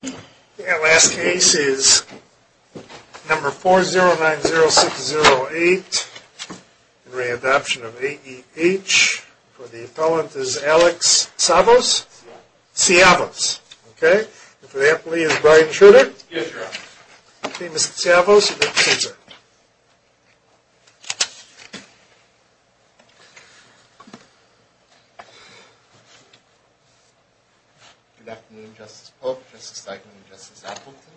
The last case is number 4090608, the re-adoption of A.E.H. For the appellant is Alex Savos? Siavos. Siavos. Okay. And for the appellee is Brian Schroeder? Yes, Your Honor. Okay, Mr. Siavos, you may proceed, sir. Good afternoon, Justice Polk, Justice Steichman, and Justice Appleton.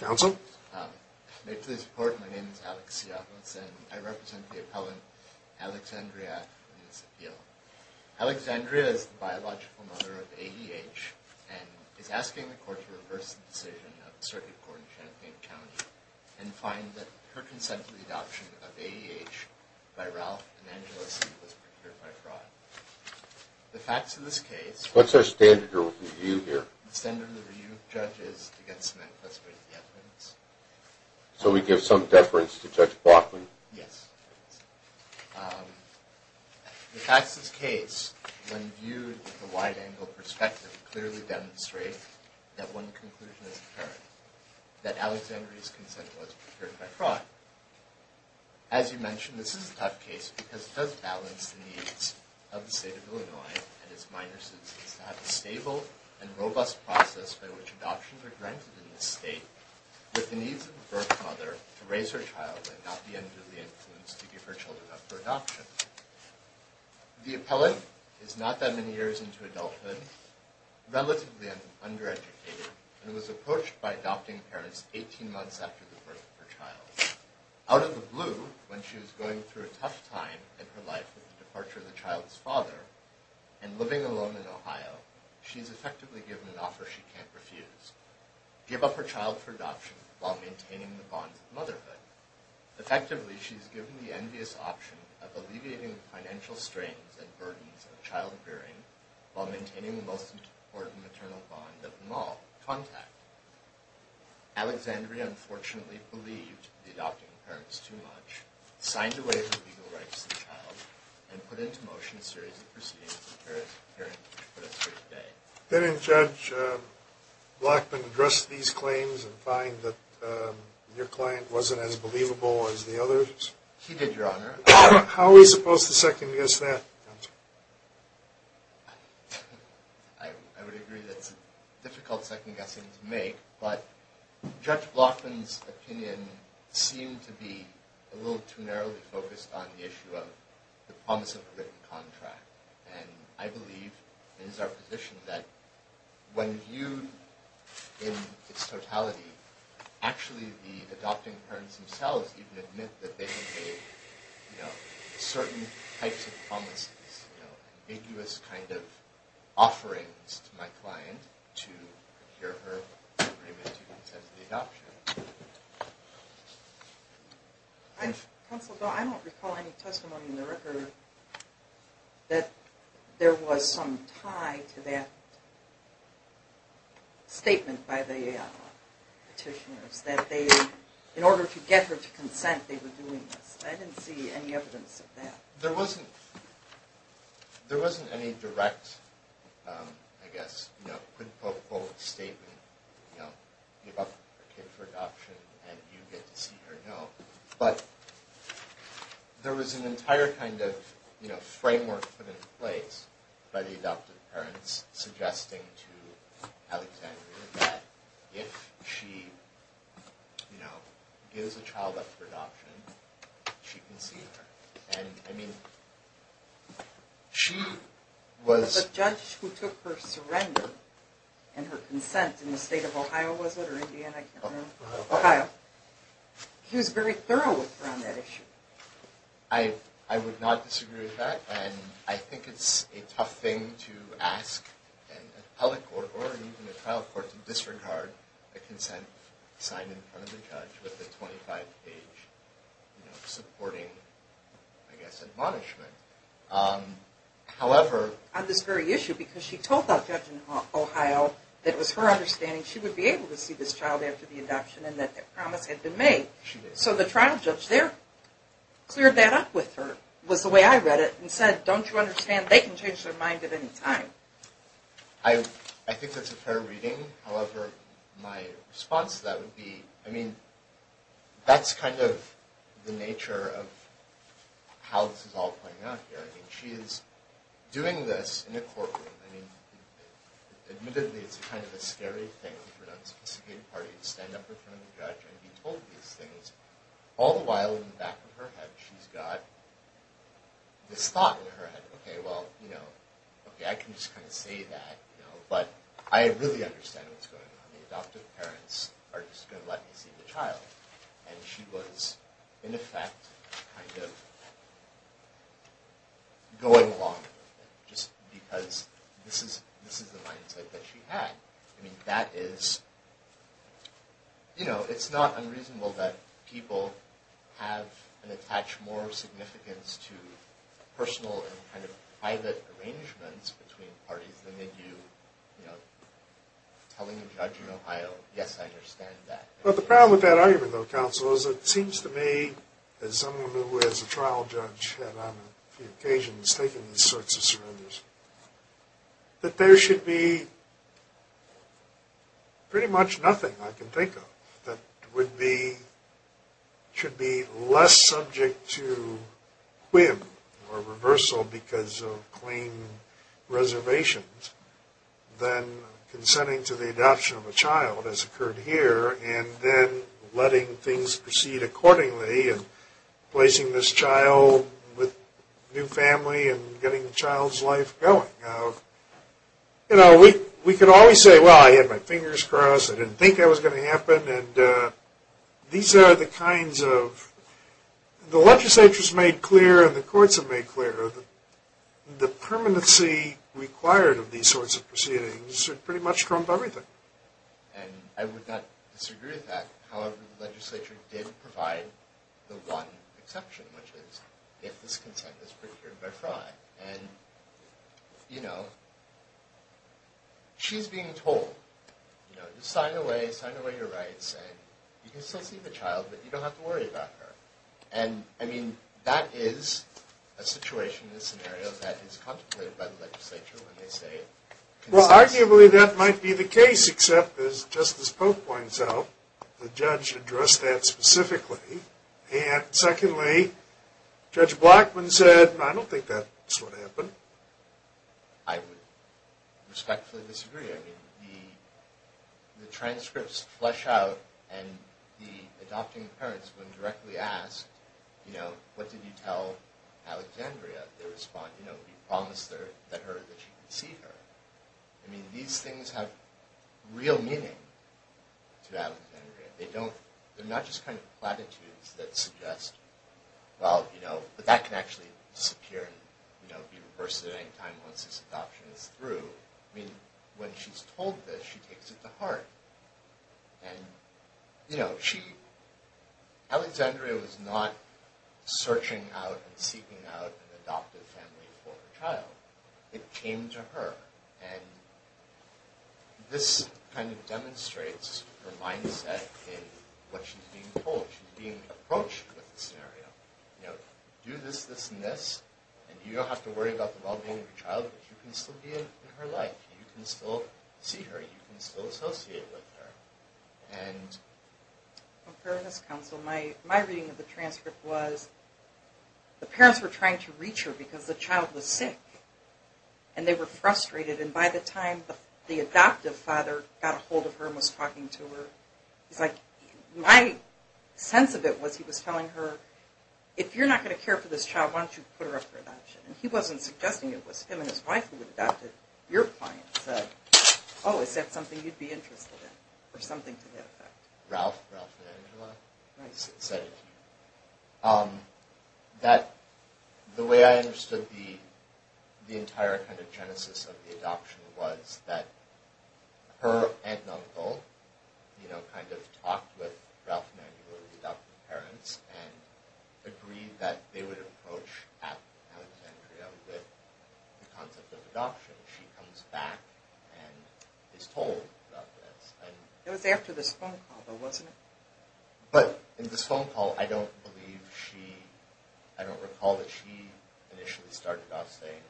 Counsel. May it please the Court, my name is Alex Siavos, and I represent the appellant, Alexandria in this appeal. Alexandria is the biological mother of A.E.H. and is asking the Court to reverse the decision of the Circuit Court in Champaign County and find that her consent to the adoption of A.E.H. by Ralph and Angeles was procured by fraud. The facts of this case. What's our standard review here? The standard review of judges against men classified as the efferents. So we give some deference to Judge Blockley? Yes. The facts of this case, when viewed with a wide-angle perspective, clearly demonstrate that one conclusion is apparent, that Alexandria's consent was procured by fraud. As you mentioned, this is a tough case because it does balance the needs of the state of Illinois and its minor citizens to have a stable and robust process by which adoptions are granted in this state with the needs of the birth mother to raise her child and not be under the influence to give her children up for adoption. The appellant is not that many years into adulthood, relatively undereducated, and was approached by adopting parents 18 months after the birth of her child. Out of the blue, when she was going through a tough time in her life with the departure of the child's father and living alone in Ohio, she is effectively given an offer she can't refuse. Give up her child for adoption while maintaining the bonds of motherhood. Effectively, she is given the envious option of alleviating the financial strains and burdens of childbearing while maintaining the most important maternal bond of them all, contact. Alexandria, unfortunately, believed the adopting parents too much, signed away her legal rights to the child, and put into motion a series of proceedings in her appearance for the first day. Didn't Judge Blackman address these claims and find that your client wasn't as believable as the others? He did, Your Honor. How are we supposed to second-guess that, counsel? I would agree that it's a difficult second-guessing to make, but Judge Blackman's opinion seemed to be a little too narrowly focused on the issue of the promise of a written contract. And I believe it is our position that when viewed in its totality, actually the adopting parents themselves even admit that they made certain types of promises, ambiguous kind of offerings to my client to procure her agreement to consent to the adoption. Counsel, I don't recall any testimony in the record that there was some tie to that statement by the petitioners that they, in order to get her to consent, they were doing this. I didn't see any evidence of that. There wasn't any direct, I guess, quote-unquote statement, you know, give up a kid for adoption and you get to see her, no. But there was an entire kind of framework put in place by the adoptive parents suggesting to Alexandria that if she gives a child up for adoption, she can see her. And, I mean, she was... The judge who took her surrender and her consent in the state of Ohio, was it, or Indiana? Ohio. Ohio. He was very thorough with her on that issue. I would not disagree with that. And I think it's a tough thing to ask an appellate court or even a trial court to disregard a I guess, admonishment. However... On this very issue, because she told that judge in Ohio that it was her understanding she would be able to see this child after the adoption and that that promise had been made. She did. So the trial judge there cleared that up with her, was the way I read it, and said, don't you understand, they can change their mind at any time. I think that's a fair reading. However, my response to that would be, I mean, that's kind of the nature of how this is all playing out here. I mean, she is doing this in a courtroom. I mean, admittedly, it's kind of a scary thing for an unsophisticated party to stand up in front of a judge and be told these things. All the while, in the back of her head, she's got this thought in her head, okay, well, I can just kind of say that, but I really understand what's going on. The adoptive parents are just going to let me see the child. And she was, in effect, kind of going along with it. Just because this is the mindset that she had. I mean, that is... You know, it's not unreasonable that people have and attach more significance to personal and kind of private arrangements between parties than that you, you know, telling a judge in Ohio, yes, I understand that. Well, the problem with that argument, though, counsel, is it seems to me, as someone who is a trial judge and on a few occasions taken these sorts of surrenders, that there should be pretty much nothing I can think of that would be, should be less subject to whim or reversal because of claim reservations than consenting to the adoption of a child, as occurred here, and then letting things proceed accordingly and placing this child with new family and getting the child's life going. You know, we can always say, well, I had my fingers crossed. I didn't think that was going to happen. And these are the kinds of... The legislature has made clear and the courts have made clear that the permanency required of these sorts of proceedings should pretty much trump everything. And I would not disagree with that. However, the legislature did provide the one exception, which is if this consent is procured by fraud. And, you know, she's being told, you know, sign away, sign away your rights, and you can still see the child, but you don't have to worry about her. And, I mean, that is a situation, a scenario, that is contemplated by the legislature when they say... Well, arguably, that might be the case, except, as Justice Pope points out, the judge addressed that specifically. And, secondly, Judge Blackmun said, I don't think that's what happened. I would respectfully disagree. I mean, the transcripts flesh out and the adopting parents, when directly asked, you know, what did you tell Alexandria, they respond, you know, you promised her that she could see her. I mean, these things have real meaning to Alexandria. They're not just kind of platitudes that suggest, well, you know, but that can actually disappear and be reversed at any time once this adoption is through. I mean, when she's told this, she takes it to heart. And, you know, Alexandria was not searching out and seeking out an adoptive family for her child. It came to her. And this kind of demonstrates her mindset in what she's being told. She's being approached with the scenario. You know, do this, this, and this. And you don't have to worry about the well-being of your child, but you can still be in her life. You can still see her. You can still associate with her. And... Well, Fairness Council, my reading of the transcript was the parents were trying to reach her because the child was sick. And they were frustrated. And by the time the adoptive father got a hold of her and was talking to her, he's like, my sense of it was he was telling her, if you're not going to care for this child, why don't you put her up for adoption? And he wasn't suggesting it was him and his wife who had adopted. Your client said, oh, is that something you'd be interested in or something to that effect? Ralph, Ralph and Angela said it to me. That the way I understood the entire kind of genesis of the adoption was that her aunt and uncle, you know, kind of talked with Ralph and Angela, the adoptive parents, and agreed that they would approach Aunt Andrea with the concept of adoption. She comes back and is told about this. It was after this phone call, though, wasn't it? But in this phone call, I don't recall that she initially started off saying,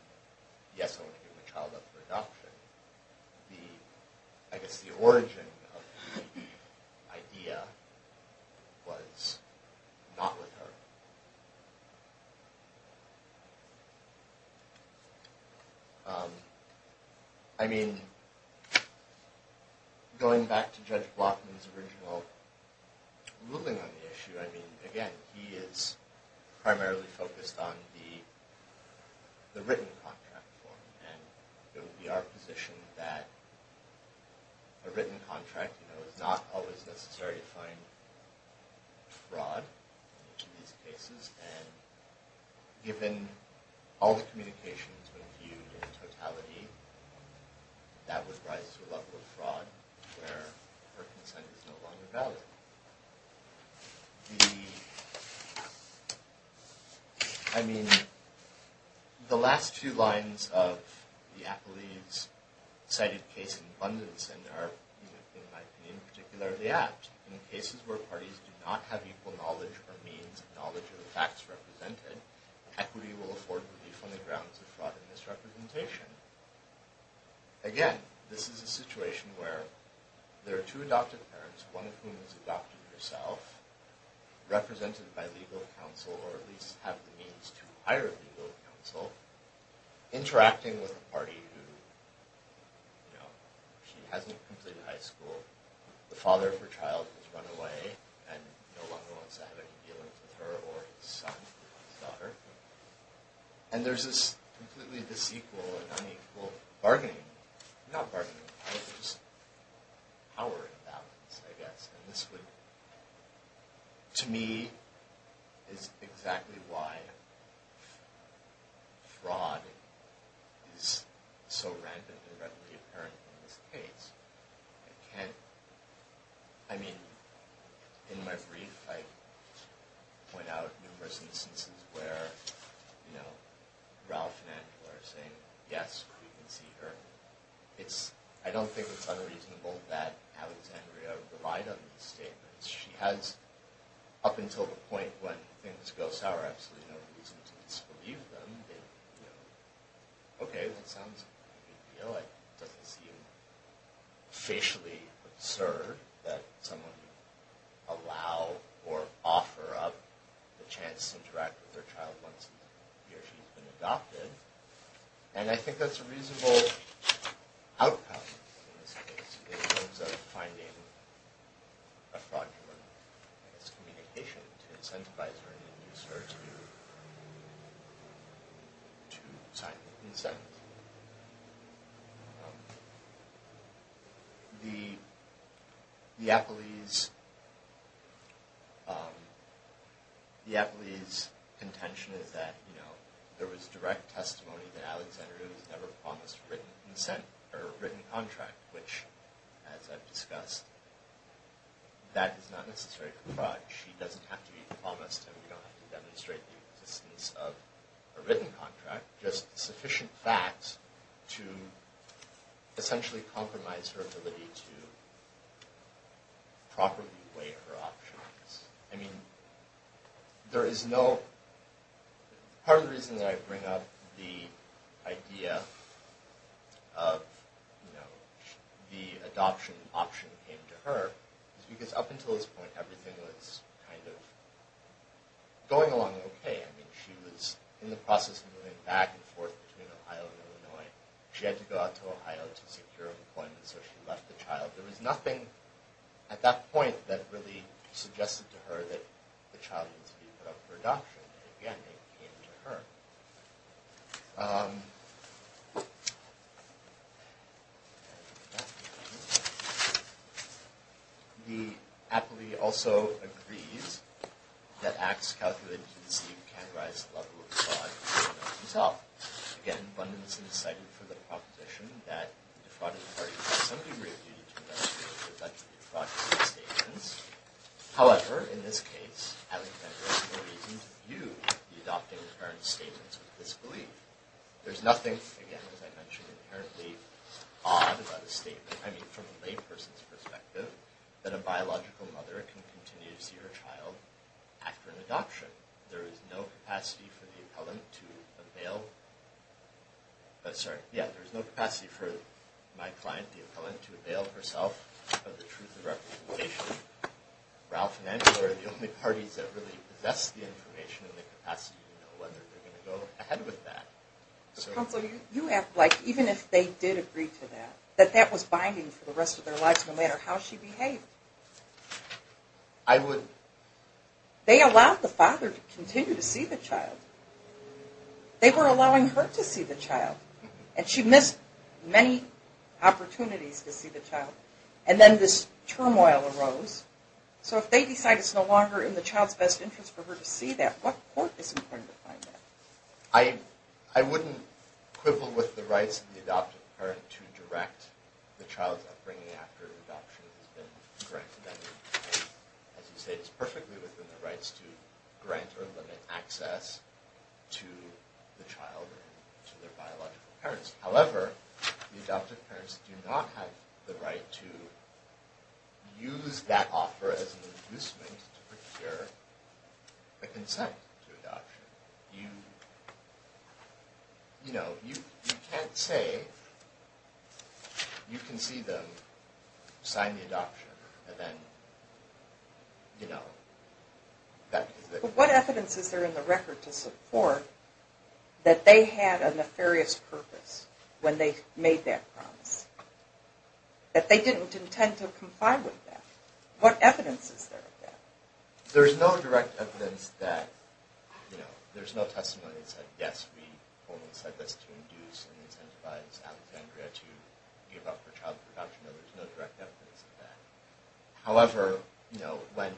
yes, I want to give my child up for adoption. I guess the origin of the idea was not with her. I mean, going back to Judge Blotman's original ruling on the issue, I mean, again, he is primarily focused on the written contract form. And it would be our position that a written contract, you know, it's not always necessary to find fraud in these cases. And given all the communications when viewed in totality, that would rise to a level of fraud where her consent is no longer valid. The, I mean, the last two lines of the appellee's cited case in abundance and are, in my opinion, particularly apt. In cases where parties do not have equal knowledge or means, knowledge of the facts represented, equity will afford relief on the grounds of fraud and misrepresentation. Again, this is a situation where there are two adoptive parents, one of whom is adopted herself, represented by legal counsel, or at least have the means to hire legal counsel, interacting with a party who, you know, she hasn't completed high school. The father of her child has run away and no longer wants to have any dealings with her or his son or his daughter. And there's this completely disequal and unequal bargaining. Not bargaining, just power imbalance, I guess. And this would, to me, is exactly why fraud is so random and readily apparent in this case. I can't, I mean, in my brief, I point out numerous instances where, you know, Ralph and Angela are saying, yes, we can see her. I don't think it's unreasonable that Alexandria relied on these statements. She has, up until the point when things go sour, absolutely no reason to disbelieve them. Okay, that sounds like a good deal. It doesn't seem facially absurd that someone would allow or offer up the chance to interact with their child once he or she's been adopted. And I think that's a reasonable outcome, in this case, in terms of finding a fraudulent, I guess, communication to incentivize her to start to do, to sign the consent. The appellee's contention is that, you know, there was direct testimony that Alexandria was never promised written consent, or written contract, which, as I've discussed, that is not necessarily a fraud. She doesn't have to be promised, and we don't have to demonstrate the existence of a written contract. Just sufficient facts to essentially compromise her ability to properly weigh her options. I mean, there is no, part of the reason that I bring up the idea of, you know, the adoption option came to her, is because up until this point, everything was kind of going along okay. I mean, she was in the process of moving back and forth between Ohio and Illinois. She had to go out to Ohio to secure an appointment, so she left the child. There was nothing at that point that really suggested to her that the child needed to be put up for adoption. Again, it came to her. The appellee also agrees that acts calculated to deceive can rise to the level of fraud. Again, Bundinson cited for the proposition that the defrauding party has some degree of duty to demonstrate However, in this case, Alexander has no reason to view the adopting parent's statements with disbelief. There's nothing, again, as I mentioned, inherently odd about a statement. I mean, from a layperson's perspective, that a biological mother can continue to see her child after an adoption. There is no capacity for my client, the appellant, to avail herself of the truth of representation. Ralph and Angela are the only parties that really possess the information and the capacity to know whether they're going to go ahead with that. Counsel, you have, like, even if they did agree to that, that that was binding for the rest of their lives, no matter how she behaved. I would... They allowed the father to continue to see the child. They were allowing her to see the child. And she missed many opportunities to see the child. And then this turmoil arose. So if they decide it's no longer in the child's best interest for her to see that, what court is going to find that? I wouldn't quibble with the rights of the adoptive parent to direct the child's upbringing after adoption has been granted. As you say, it's perfectly within the rights to grant or limit access to the child or to their biological parents. However, the adoptive parents do not have the right to use that offer as an inducement to procure a consent to adoption. You know, you can't say you can see them sign the adoption and then, you know... What evidence is there in the record to support that they had a nefarious purpose when they made that promise? That they didn't intend to comply with that? What evidence is there of that? There's no direct evidence that, you know... There's no testimony that said, yes, we almost said this to induce and incentivize Alexandria to give up her child for adoption. No, there's no direct evidence of that. However, you know, when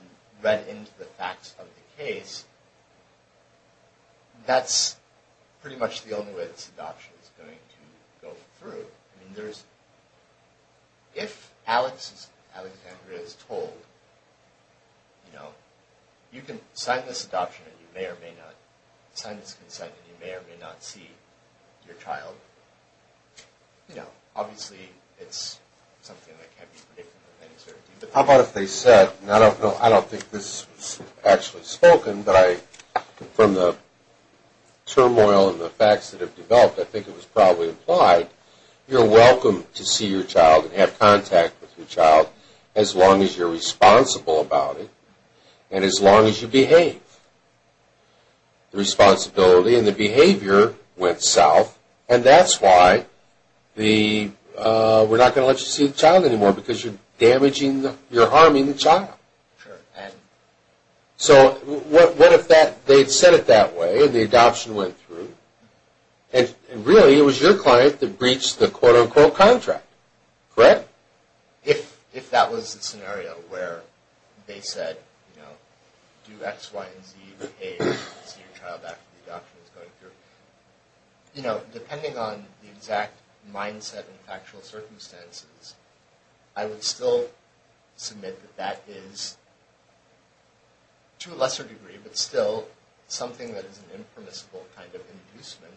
read into the facts of the case, that's pretty much the only way this adoption is going to go through. I mean, there's... If Alexandria is told, you know, you can sign this adoption and you may or may not sign this consent and you may or may not see your child, you know, obviously it's something that can't be predicted with any certainty. How about if they said, and I don't think this was actually spoken, but from the turmoil and the facts that have developed, I think it was probably implied, you're welcome to see your child and have contact with your child as long as you're responsible about it and as long as you behave. The responsibility and the behavior went south and that's why the... We're not going to let you see the child anymore because you're damaging, you're harming the child. So what if they had said it that way and the adoption went through and really it was your client that breached the quote-unquote contract, correct? If that was the scenario where they said, you know, do X, Y, and Z, behave and see your child after the adoption is going through, you know, depending on the exact mindset and factual circumstances, I would still submit that that is, to a lesser degree, but still something that is an impermissible kind of inducement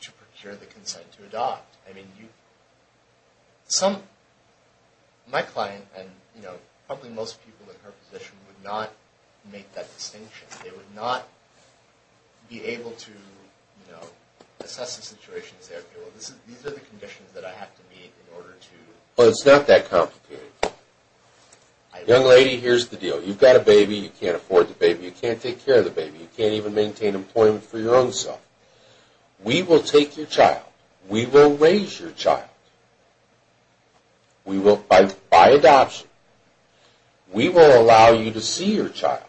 to procure the consent to adopt. I mean, my client and, you know, probably most people in her position would not make that distinction. They would not be able to, you know, assess the situation and say, okay, well, these are the conditions that I have to meet in order to... Well, it's not that complicated. Young lady, here's the deal. You've got a baby, you can't afford the baby, you can't take care of the baby, you can't even maintain employment for your own self. We will take your child. We will raise your child. We will, by adoption, we will allow you to see your child,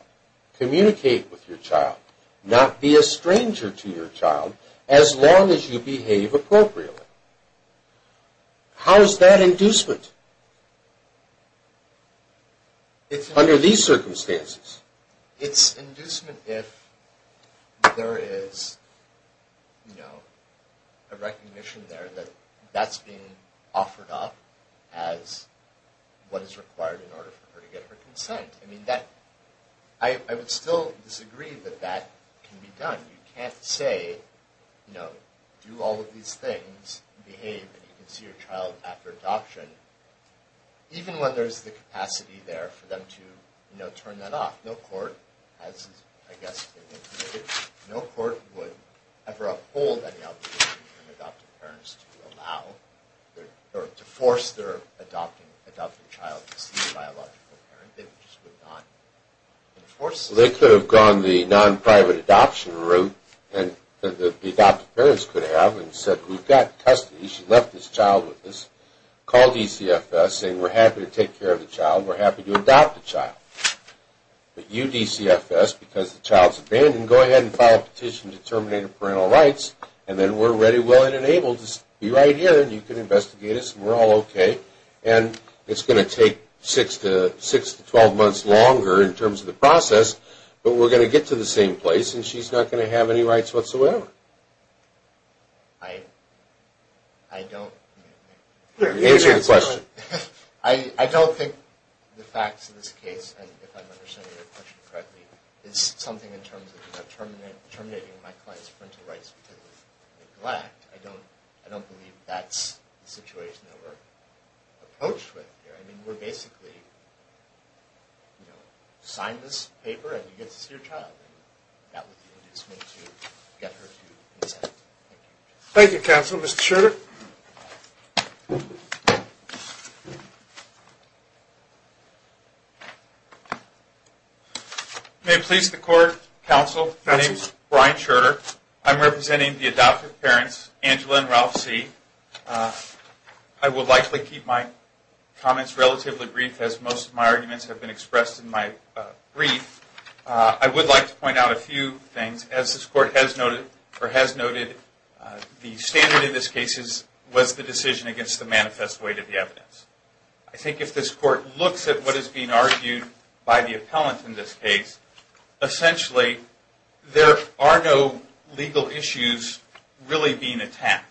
communicate with your child, not be a stranger to your child as long as you behave appropriately. How is that inducement under these circumstances? It's inducement if there is, you know, a recognition there that that's being offered up as what is required in order for her to get her consent. I mean, I would still disagree that that can be done. You can't say, you know, do all of these things, behave, and you can see your child after adoption, even when there's the capacity there for them to, you know, turn that off. No court, as I guess has been indicated, no court would ever uphold any obligation from adoptive parents to allow or to force their adoptive child to see a biological parent. They could have gone the non-private adoption route that the adoptive parents could have and said we've got custody, she left this child with us, called DCFS saying we're happy to take care of the child, we're happy to adopt the child. But you, DCFS, because the child's abandoned, go ahead and file a petition to terminate her parental rights and then we're ready, willing, and able to be right here and you can investigate us and we're all okay. And it's going to take 6 to 12 months longer in terms of the process, but we're going to get to the same place and she's not going to have any rights whatsoever. I don't think the facts of this case, if I'm understanding your question correctly, is something in terms of terminating my client's parental rights because of neglect. I don't believe that's the situation that we're approached with here. I mean, we're basically, you know, sign this paper and you get to see your child. That was the inducement to get her to consent. Thank you, counsel. Mr. Schurter. May it please the court, counsel, my name's Brian Schurter. I'm representing the adoptive parents, Angela and Ralph C. I will likely keep my comments relatively brief as most of my arguments have been expressed in my brief. I would like to point out a few things. As this court has noted, the standard in this case was the decision against the manifest weight of the evidence. I think if this court looks at what is being argued by the appellant in this case, essentially there are no legal issues really being attacked.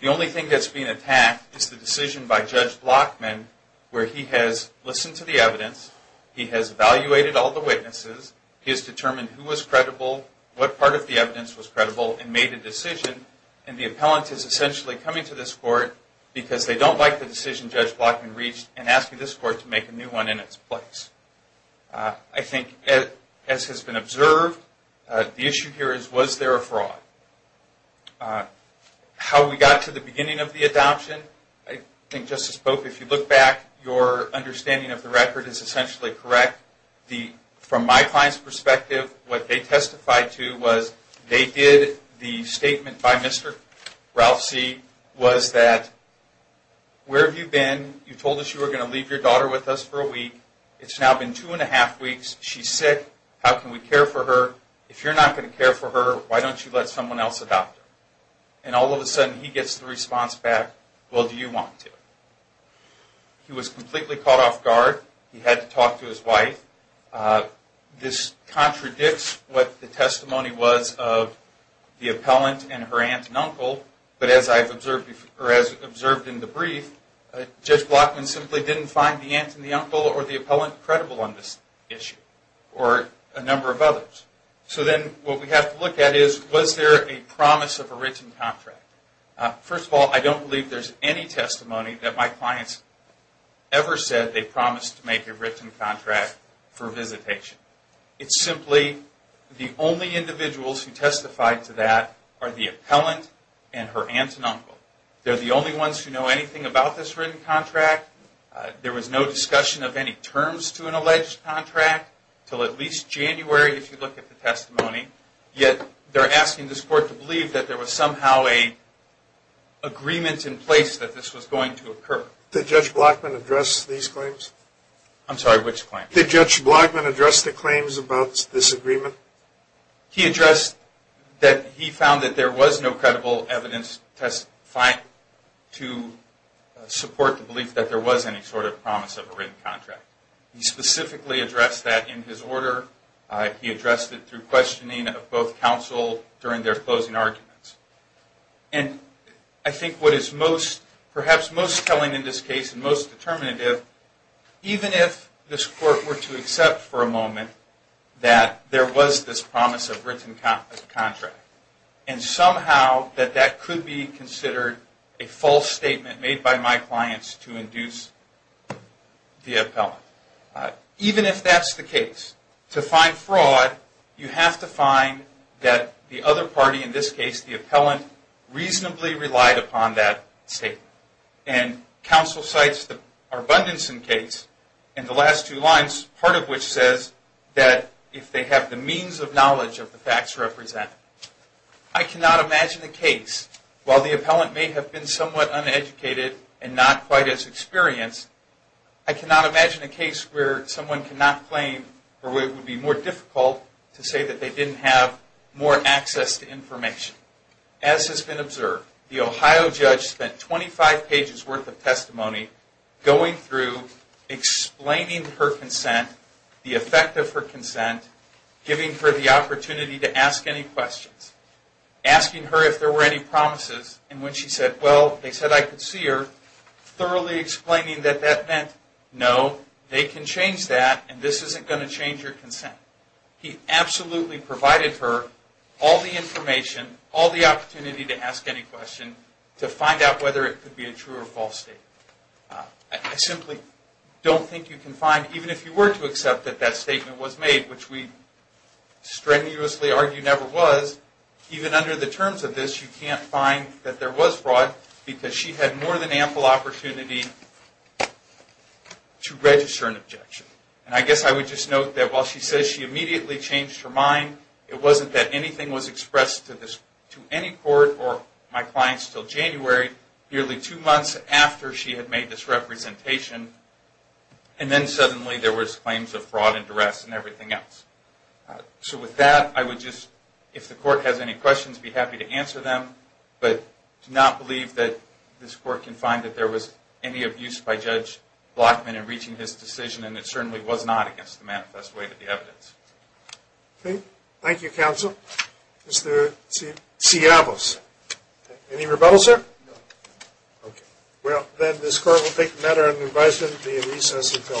The only thing that's being attacked is the decision by Judge Blockman, where he has listened to the evidence, he has evaluated all the witnesses, he has determined who was credible, what part of the evidence was credible, and made a decision. And the appellant is essentially coming to this court because they don't like the decision Judge Blockman reached and asking this court to make a new one in its place. I think as has been observed, the issue here is was there a fraud? How we got to the beginning of the adoption, I think Justice Boak, if you look back, your understanding of the record is essentially correct. From my client's perspective, what they testified to was they did the statement by Mr. Ralph C. was that, where have you been? You told us you were going to leave your daughter with us for a week. It's now been two and a half weeks. She's sick. How can we care for her? If you're not going to care for her, why don't you let someone else adopt her? And all of a sudden he gets the response back, well, do you want to? He was completely caught off guard. He had to talk to his wife. This contradicts what the testimony was of the appellant and her aunt and uncle, but as I've observed in the brief, Judge Blockman simply didn't find the aunt and the uncle or the appellant credible on this issue or a number of others. So then what we have to look at is was there a promise of a written contract? First of all, I don't believe there's any testimony that my clients ever said they promised to make a written contract for visitation. It's simply the only individuals who testified to that are the appellant and her aunt and uncle. They're the only ones who know anything about this written contract. There was no discussion of any terms to an alleged contract until at least January, if you look at the testimony. Yet they're asking this court to believe that there was somehow an agreement in place that this was going to occur. Did Judge Blockman address these claims? I'm sorry, which claims? Did Judge Blockman address the claims about this agreement? He addressed that he found that there was no credible evidence to support the belief that there was any sort of promise of a written contract. He specifically addressed that in his order. He addressed it through questioning of both counsel during their closing arguments. And I think what is perhaps most telling in this case and most determinative, even if this court were to accept for a moment that there was this promise of written contract and somehow that that could be considered a false statement made by my clients to induce the appellant. Even if that's the case, to find fraud you have to find that the other party, in this case the appellant, reasonably relied upon that statement. And counsel cites the Arbundanson case in the last two lines, part of which says that if they have the means of knowledge of the facts represented. I cannot imagine a case, while the appellant may have been somewhat uneducated and not quite as experienced, I cannot imagine a case where someone cannot claim or where it would be more difficult to say that they didn't have more access to information. As has been observed, the Ohio judge spent 25 pages worth of testimony going through, explaining her consent, the effect of her consent, giving her the opportunity to ask any questions. Asking her if there were any promises in which she said, well, they said I could see her. Thoroughly explaining that that meant, no, they can change that and this isn't going to change your consent. He absolutely provided her all the information, all the opportunity to ask any question, to find out whether it could be a true or false statement. I simply don't think you can find, even if you were to accept that that statement was made, which we strenuously argue never was, even under the terms of this you can't find that there was fraud because she had more than ample opportunity to register an objection. I guess I would just note that while she says she immediately changed her mind, it wasn't that anything was expressed to any court or my clients until January, nearly two months after she had made this representation, and then suddenly there was claims of fraud and duress and everything else. So with that, I would just, if the court has any questions, be happy to answer them, but do not believe that this court can find that there was any abuse by Judge Blackman in reaching his decision and it certainly was not against the manifest way of the evidence. Thank you, counsel. Mr. Ciavas, any rebuttals, sir? No. Okay. Well, then this court will take the matter under advisement to be in recess until 2 p.m.